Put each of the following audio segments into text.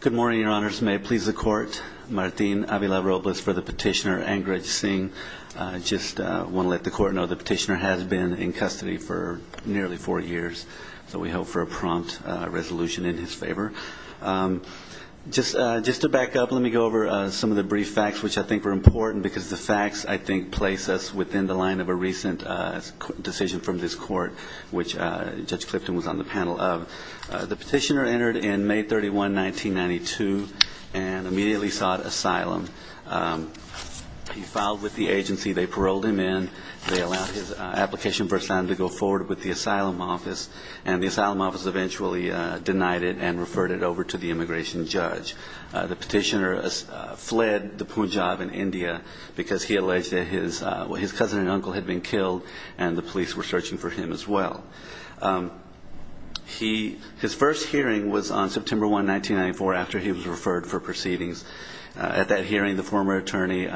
Good morning, your honors. May it please the court. Martin Avila Robles for the petitioner, Angraj Singh. I just want to let the court know the petitioner has been in custody for nearly four years. So we hope for a prompt resolution in his favor. Just to back up, let me go over some of the brief facts, which I think are important because the facts, I think, place us within the line of a recent decision from this court, which Judge Clifton was on the panel of. The petitioner entered in May 31, 1992, and immediately sought asylum. He filed with the agency. They paroled him in. They allowed his application for asylum to go forward with the asylum office, and the asylum office eventually denied it and referred it over to the immigration judge. The petitioner fled the Punjab in India because he alleged that his cousin and uncle had been killed, and the police were searching for him as well. His first hearing was on September 1, 1994, after he was referred for proceedings. At that hearing, the former attorney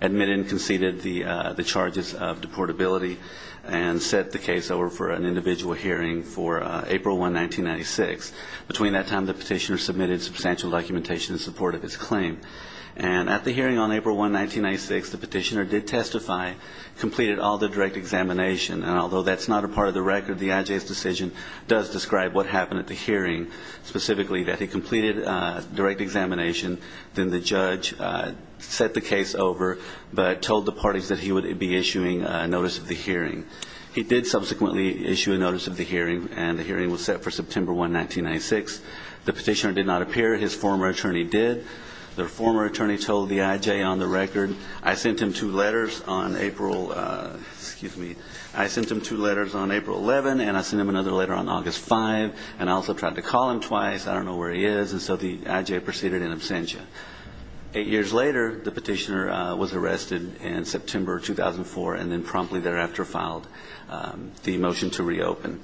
admitted and conceded the charges of deportability and set the case over for an individual hearing for April 1, 1996. Between that time, the petitioner submitted substantial documentation in support of his claim. And at the hearing on April 1, 1996, the petitioner did testify, completed all the direct examination, and although that's not a part of the record, the IJ's decision does describe what happened at the hearing, specifically that he completed direct examination, then the judge set the case over but told the parties that he would be issuing a notice of the hearing. He did subsequently issue a notice of the hearing, and the hearing was set for September 1, 1996. The petitioner did not appear. His former attorney did. The former attorney told the IJ on the record, I sent him two letters on April 11, and I sent him another letter on August 5, and I also tried to call him twice. I don't know where he is. And so the IJ proceeded in absentia. Eight years later, the petitioner was arrested in September 2004 and then promptly thereafter filed the motion to reopen.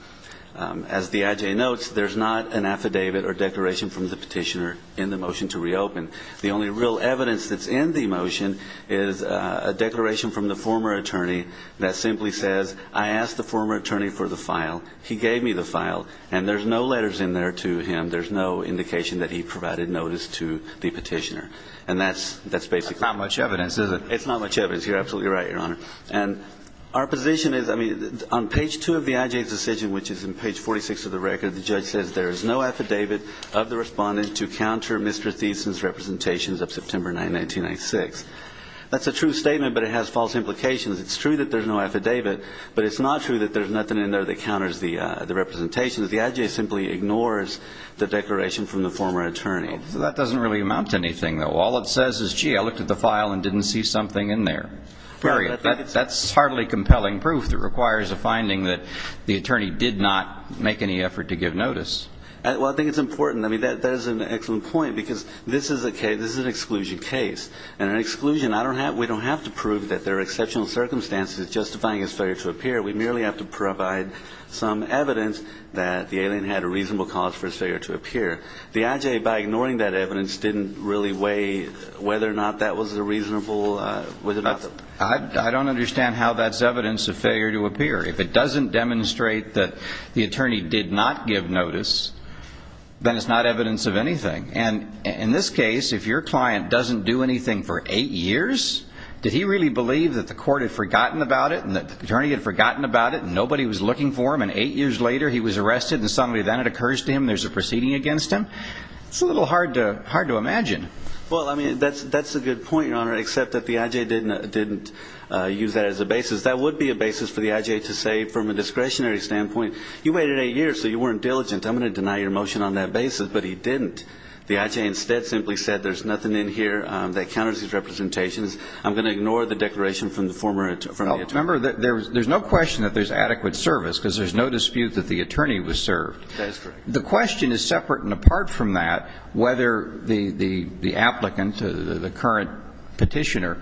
As the IJ notes, there's not an affidavit or declaration from the petitioner in the motion to reopen. The only real evidence that's in the motion is a declaration from the former attorney that simply says, I asked the former attorney for the file. He gave me the file, and there's no letters in there to him. There's no indication that he provided notice to the petitioner, and that's basically it. That's not much evidence, is it? It's not much evidence. You're absolutely right, Your Honor. Our position is, I mean, on page 2 of the IJ's decision, which is in page 46 of the record, the judge says there is no affidavit of the respondent to counter Mr. Thiessen's representations of September 9, 1996. That's a true statement, but it has false implications. It's true that there's no affidavit, but it's not true that there's nothing in there that counters the representations. The IJ simply ignores the declaration from the former attorney. That doesn't really amount to anything, though. All it says is, gee, I looked at the file and didn't see something in there. Period. That's hardly compelling proof that requires a finding that the attorney did not make any effort to give notice. Well, I think it's important. I mean, that is an excellent point because this is an exclusion case, and an exclusion, we don't have to prove that there are exceptional circumstances justifying his failure to appear. We merely have to provide some evidence that the alien had a reasonable cause for his failure to appear. The IJ, by ignoring that evidence, didn't really weigh whether or not that was a reasonable, whether or not. I don't understand how that's evidence of failure to appear. If it doesn't demonstrate that the attorney did not give notice, then it's not evidence of anything. And in this case, if your client doesn't do anything for eight years, did he really believe that the court had forgotten about it and that the attorney had forgotten about it and nobody was looking for him, and eight years later he was arrested and suddenly then it occurs to him there's a proceeding against him, it's a little hard to imagine. Well, I mean, that's a good point, Your Honor, except that the IJ didn't use that as a basis. That would be a basis for the IJ to say from a discretionary standpoint, you waited eight years so you weren't diligent, I'm going to deny your motion on that basis, but he didn't. The IJ instead simply said there's nothing in here that counters his representations. I'm going to ignore the declaration from the former attorney. Remember, there's no question that there's adequate service because there's no dispute that the attorney was served. That's correct. The question is separate and apart from that whether the applicant, the current petitioner,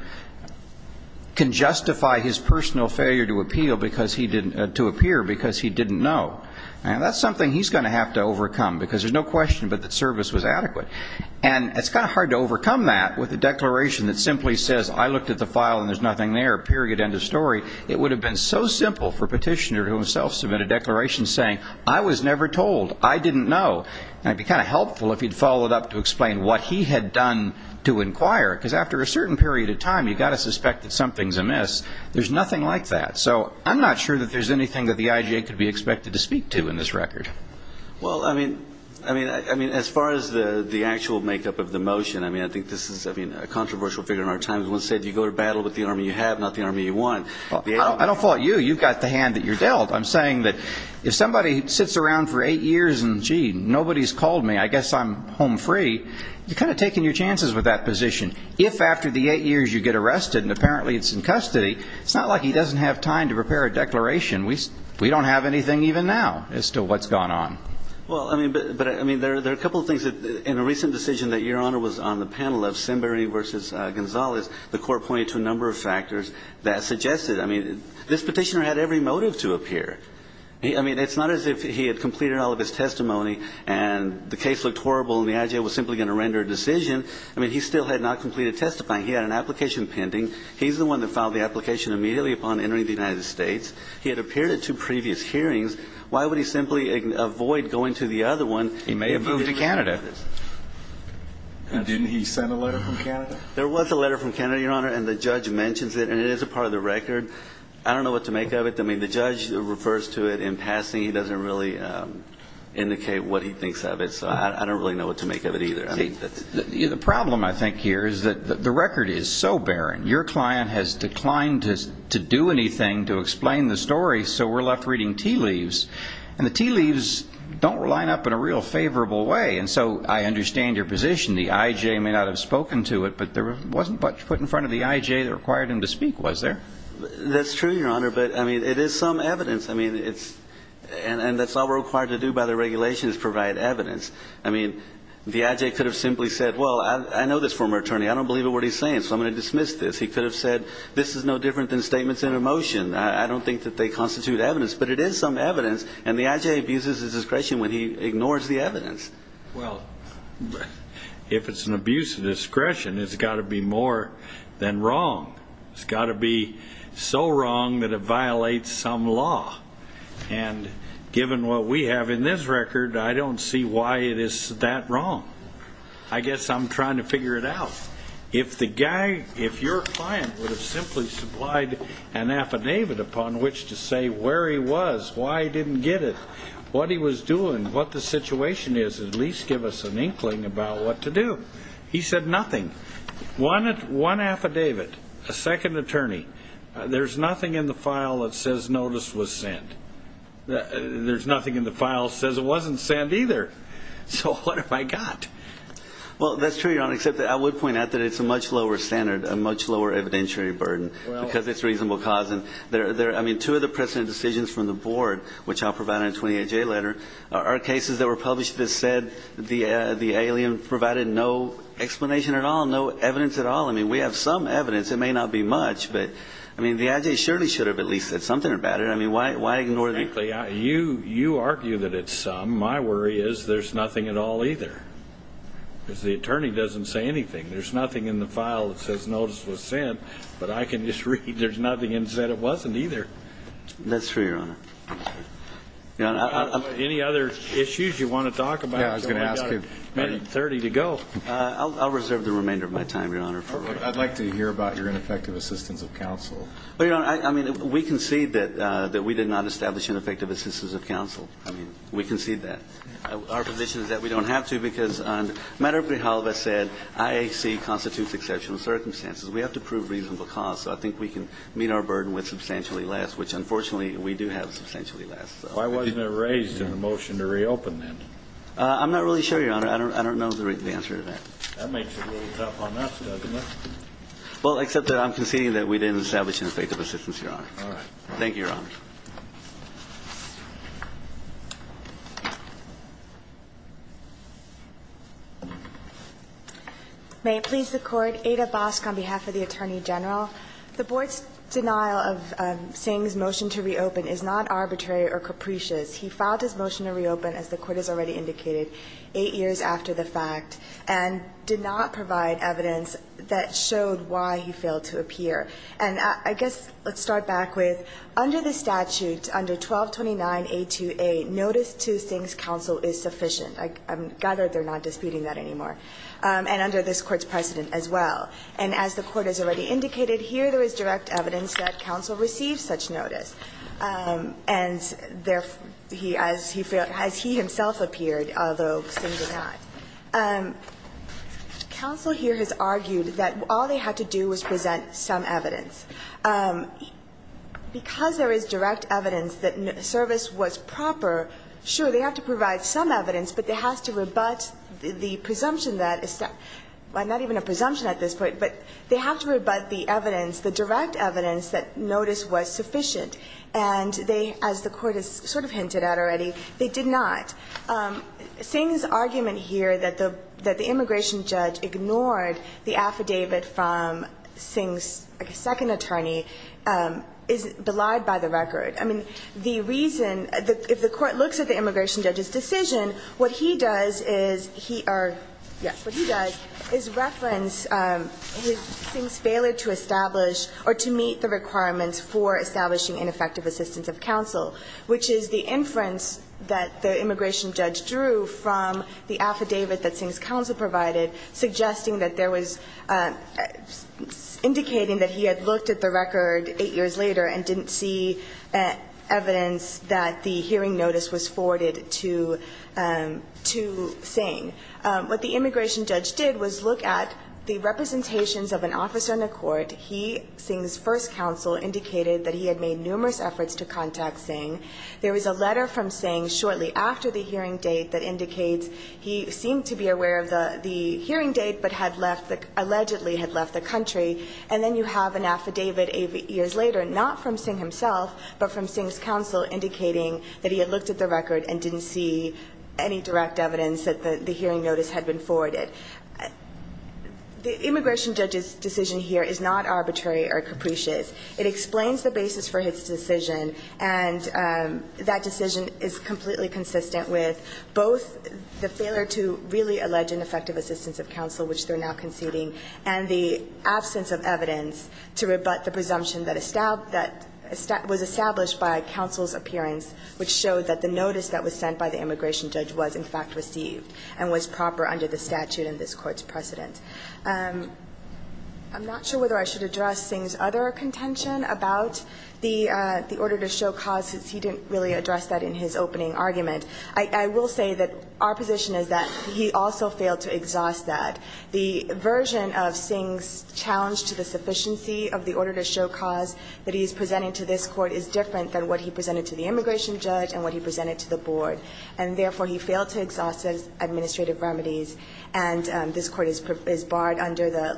can justify his personal failure to appeal because he didn't know. And that's something he's going to have to overcome because there's no question but that service was adequate. And it's kind of hard to overcome that with a declaration that simply says, I looked at the file and there's nothing there, period, end of story. It would have been so simple for a petitioner to himself submit a declaration saying, I was never told. I didn't know. And it would be kind of helpful if he'd follow it up to explain what he had done to inquire because after a certain period of time, you've got to suspect that something's amiss. There's nothing like that. So I'm not sure that there's anything that the IJ could be expected to speak to in this record. Well, I mean, as far as the actual makeup of the motion, I mean, I think this is, I mean, you go to battle with the army you have, not the army you want. I don't fault you. You've got the hand that you're dealt. I'm saying that if somebody sits around for eight years and, gee, nobody's called me, I guess I'm home free, you're kind of taking your chances with that position. If after the eight years you get arrested and apparently it's in custody, it's not like he doesn't have time to prepare a declaration. We don't have anything even now as to what's gone on. Well, I mean, there are a couple of things that in a recent decision that Your Honor was on the panel of Sembery v. Gonzalez, the court pointed to a number of factors that suggested, I mean, this petitioner had every motive to appear. I mean, it's not as if he had completed all of his testimony and the case looked horrible and the IJ was simply going to render a decision. I mean, he still had not completed testifying. He had an application pending. He's the one that filed the application immediately upon entering the United States. He had appeared at two previous hearings. Why would he simply avoid going to the other one? He may have moved to Canada. Didn't he send a letter from Canada? There was a letter from Canada, Your Honor, and the judge mentions it. And it is a part of the record. I don't know what to make of it. I mean, the judge refers to it in passing. He doesn't really indicate what he thinks of it. So I don't really know what to make of it either. The problem, I think, here is that the record is so barren. Your client has declined to do anything to explain the story, so we're left reading tea leaves. And the tea leaves don't line up in a real favorable way. And so I understand your position. The IJ may not have spoken to it, but there wasn't much put in front of the IJ that required him to speak, was there? That's true, Your Honor, but, I mean, it is some evidence. I mean, it's all we're required to do by the regulations is provide evidence. I mean, the IJ could have simply said, well, I know this former attorney. I don't believe a word he's saying, so I'm going to dismiss this. He could have said, this is no different than statements in a motion. I don't think that they constitute evidence. But it is some evidence, and the IJ abuses his discretion when he ignores the evidence. Well, if it's an abuse of discretion, it's got to be more than wrong. It's got to be so wrong that it violates some law. And given what we have in this record, I don't see why it is that wrong. I guess I'm trying to figure it out. If the guy, if your client would have simply supplied an affidavit upon which to say where he was, why he didn't get it, what he was doing, what the situation is, at least give us an inkling about what to do. He said nothing. One affidavit, a second attorney. There's nothing in the file that says notice was sent. There's nothing in the file that says it wasn't sent either. So what have I got? Well, that's true, Your Honor, except I would point out that it's a much lower standard, a much lower evidentiary burden because it's reasonable cause. I mean, two of the precedent decisions from the board, which I'll provide in a 28-J letter, are cases that were published that said the alien provided no explanation at all, no evidence at all. I mean, we have some evidence. It may not be much, but, I mean, the IJ surely should have at least said something about it. I mean, why ignore the ---- Frankly, you argue that it's some. My worry is there's nothing at all either because the attorney doesn't say anything. There's nothing in the file that says notice was sent, but I can just read there's nothing and say it wasn't either. That's true, Your Honor. Any other issues you want to talk about? Yeah, I was going to ask him. We've got a minute and 30 to go. I'll reserve the remainder of my time, Your Honor. I'd like to hear about your ineffective assistance of counsel. But, Your Honor, I mean, we concede that we did not establish ineffective assistance of counsel. I mean, we concede that. Our position is that we don't have to because on the matter of Brijalva said IAC constitutes exceptional circumstances. We have to prove reasonable cause, so I think we can meet our burden with substantially less, which, unfortunately, we do have substantially less. Why wasn't it raised in the motion to reopen then? I'm not really sure, Your Honor. I don't know the answer to that. That makes it a little tough on us, doesn't it? Well, except that I'm conceding that we didn't establish ineffective assistance, Your Honor. All right. Thank you, Your Honor. May it please the Court. Ada Bosk on behalf of the Attorney General. The Board's denial of Singh's motion to reopen is not arbitrary or capricious. He filed his motion to reopen, as the Court has already indicated, eight years after the fact and did not provide evidence that showed why he failed to appear. And I guess let's start back with, under the statute, under 1229A2A, notice to Singh's counsel is sufficient. I'm glad that they're not disputing that anymore. And under this Court's precedent as well. And as the Court has already indicated, here there is direct evidence that counsel received such notice, and therefore he, as he failed, as he himself appeared, although Singh did not. Counsel here has argued that all they had to do was present some evidence. Because there is direct evidence that service was proper, sure, they have to provide some evidence, but they have to rebut the presumption that, not even a presumption at this point, but they have to rebut the evidence, the direct evidence that notice was sufficient. And they, as the Court has sort of hinted at already, they did not. Singh's argument here that the immigration judge ignored the affidavit from Singh's second attorney is belied by the record. I mean, the reason, if the Court looks at the immigration judge's decision, what he does is he, or yes, what he does is reference Singh's failure to establish or to meet the requirements for establishing ineffective assistance of counsel, which is the inference that the immigration judge drew from the affidavit that Singh's counsel provided, suggesting that there was, indicating that he had looked at the record 8 years later and didn't see evidence that the hearing notice was forwarded to Singh. What the immigration judge did was look at the representations of an officer in the hearing. There was a letter from Singh shortly after the hearing date that indicates he seemed to be aware of the hearing date, but had left, allegedly had left the country. And then you have an affidavit 8 years later, not from Singh himself, but from Singh's counsel, indicating that he had looked at the record and didn't see any direct evidence that the hearing notice had been forwarded. The immigration judge's decision here is not arbitrary or capricious. It explains the basis for his decision, and that decision is completely consistent with both the failure to really allege ineffective assistance of counsel, which they're now conceding, and the absence of evidence to rebut the presumption that was established by counsel's appearance, which showed that the notice that was sent by the immigration judge was, in fact, received and was proper under the statute in this Court's precedent. I'm not sure whether I should address Singh's other contention about the order to show cause, since he didn't really address that in his opening argument. I will say that our position is that he also failed to exhaust that. The version of Singh's challenge to the sufficiency of the order to show cause that he is presenting to this Court is different than what he presented to the immigration judge and what he presented to the board. And therefore, he failed to exhaust those administrative remedies, and this Court is barred under the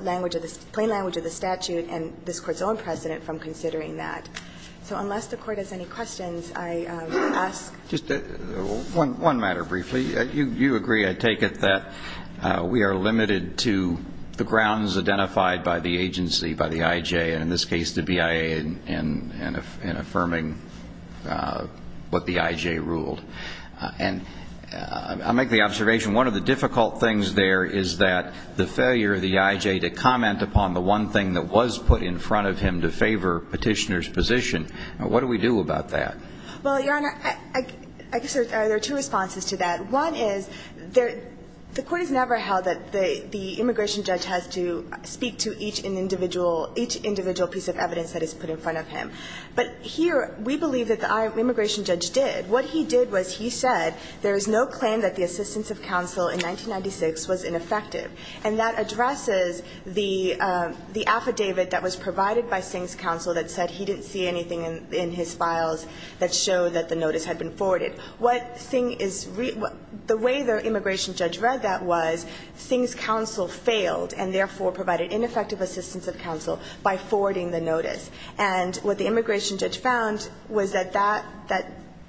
plain language of the statute and this Court's own precedent from considering that. So unless the Court has any questions, I ask. Just one matter briefly. You agree, I take it, that we are limited to the grounds identified by the agency, by the I.J., and in this case, the BIA, in affirming what the I.J. ruled. And I'll make the observation, one of the difficult things there is that the failure of the I.J. to comment upon the one thing that was put in front of him to favor Petitioner's position. What do we do about that? Well, Your Honor, I guess there are two responses to that. One is, the Court has never held that the immigration judge has to speak to each individual piece of evidence that is put in front of him. But here, we believe that the immigration judge did. What he did was he said, there is no claim that the assistance of counsel in 1996 was ineffective. And that addresses the affidavit that was provided by Singh's counsel that said he didn't see anything in his files that showed that the notice had been forwarded. What Singh is really the way the immigration judge read that was Singh's counsel failed and therefore provided ineffective assistance of counsel by forwarding the notice. And what the immigration judge found was that that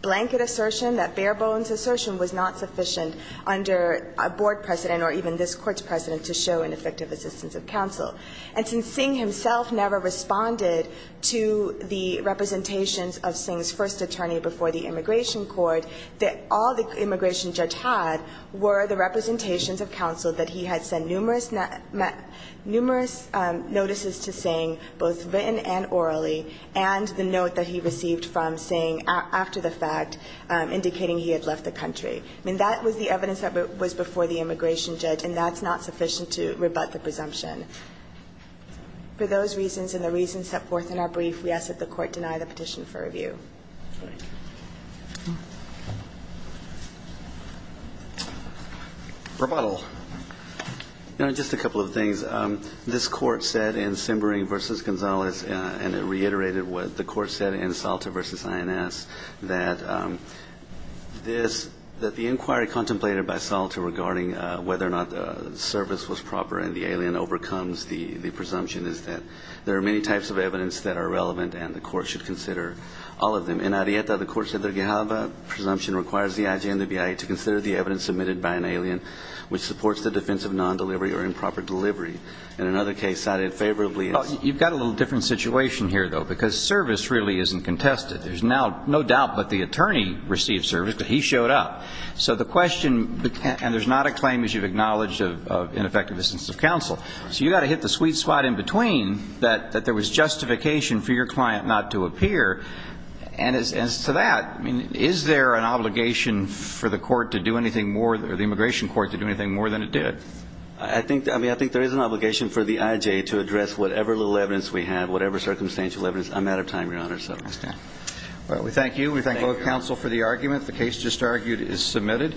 blanket assertion, that bare-bones assertion was not sufficient under a board precedent or even this Court's precedent to show ineffective assistance of counsel. And since Singh himself never responded to the representations of Singh's first attorney before the immigration court, that all the immigration judge had were the representations of counsel that he had sent numerous notices to Singh, both written and orally, and the note that he received from Singh after the fact indicating he had left the country. I mean, that was the evidence that was before the immigration judge, and that's not sufficient to rebut the presumption. For those reasons and the reasons set forth in our brief, we ask that the Court deny the petition for review. Rebuttal. You know, just a couple of things. This Court said in Simbering v. Gonzales, and it reiterated what the Court said in Salter v. INS, that this, that the inquiry contemplated by Salter regarding whether or not the service was proper and the alien overcomes the presumption is that there are many types of evidence that are relevant and the Court should consider all of them. In Arrieta, the Court said the Gehalva presumption requires the IG and the BIA to consider the evidence submitted by an alien, which supports the defense of favorably. You've got a little different situation here, though, because service really isn't contested. There's now no doubt that the attorney received service, but he showed up. So the question, and there's not a claim, as you've acknowledged, of ineffective assistance of counsel. So you've got to hit the sweet spot in between that there was justification for your client not to appear. And as to that, I mean, is there an obligation for the Court to do anything more, the immigration Court to do anything more than it did? I think there is an obligation for the IJ to address whatever little evidence we have, whatever circumstantial evidence. I'm out of time, Your Honor. All right. We thank you. We thank both counsel for the argument. The case just argued is submitted.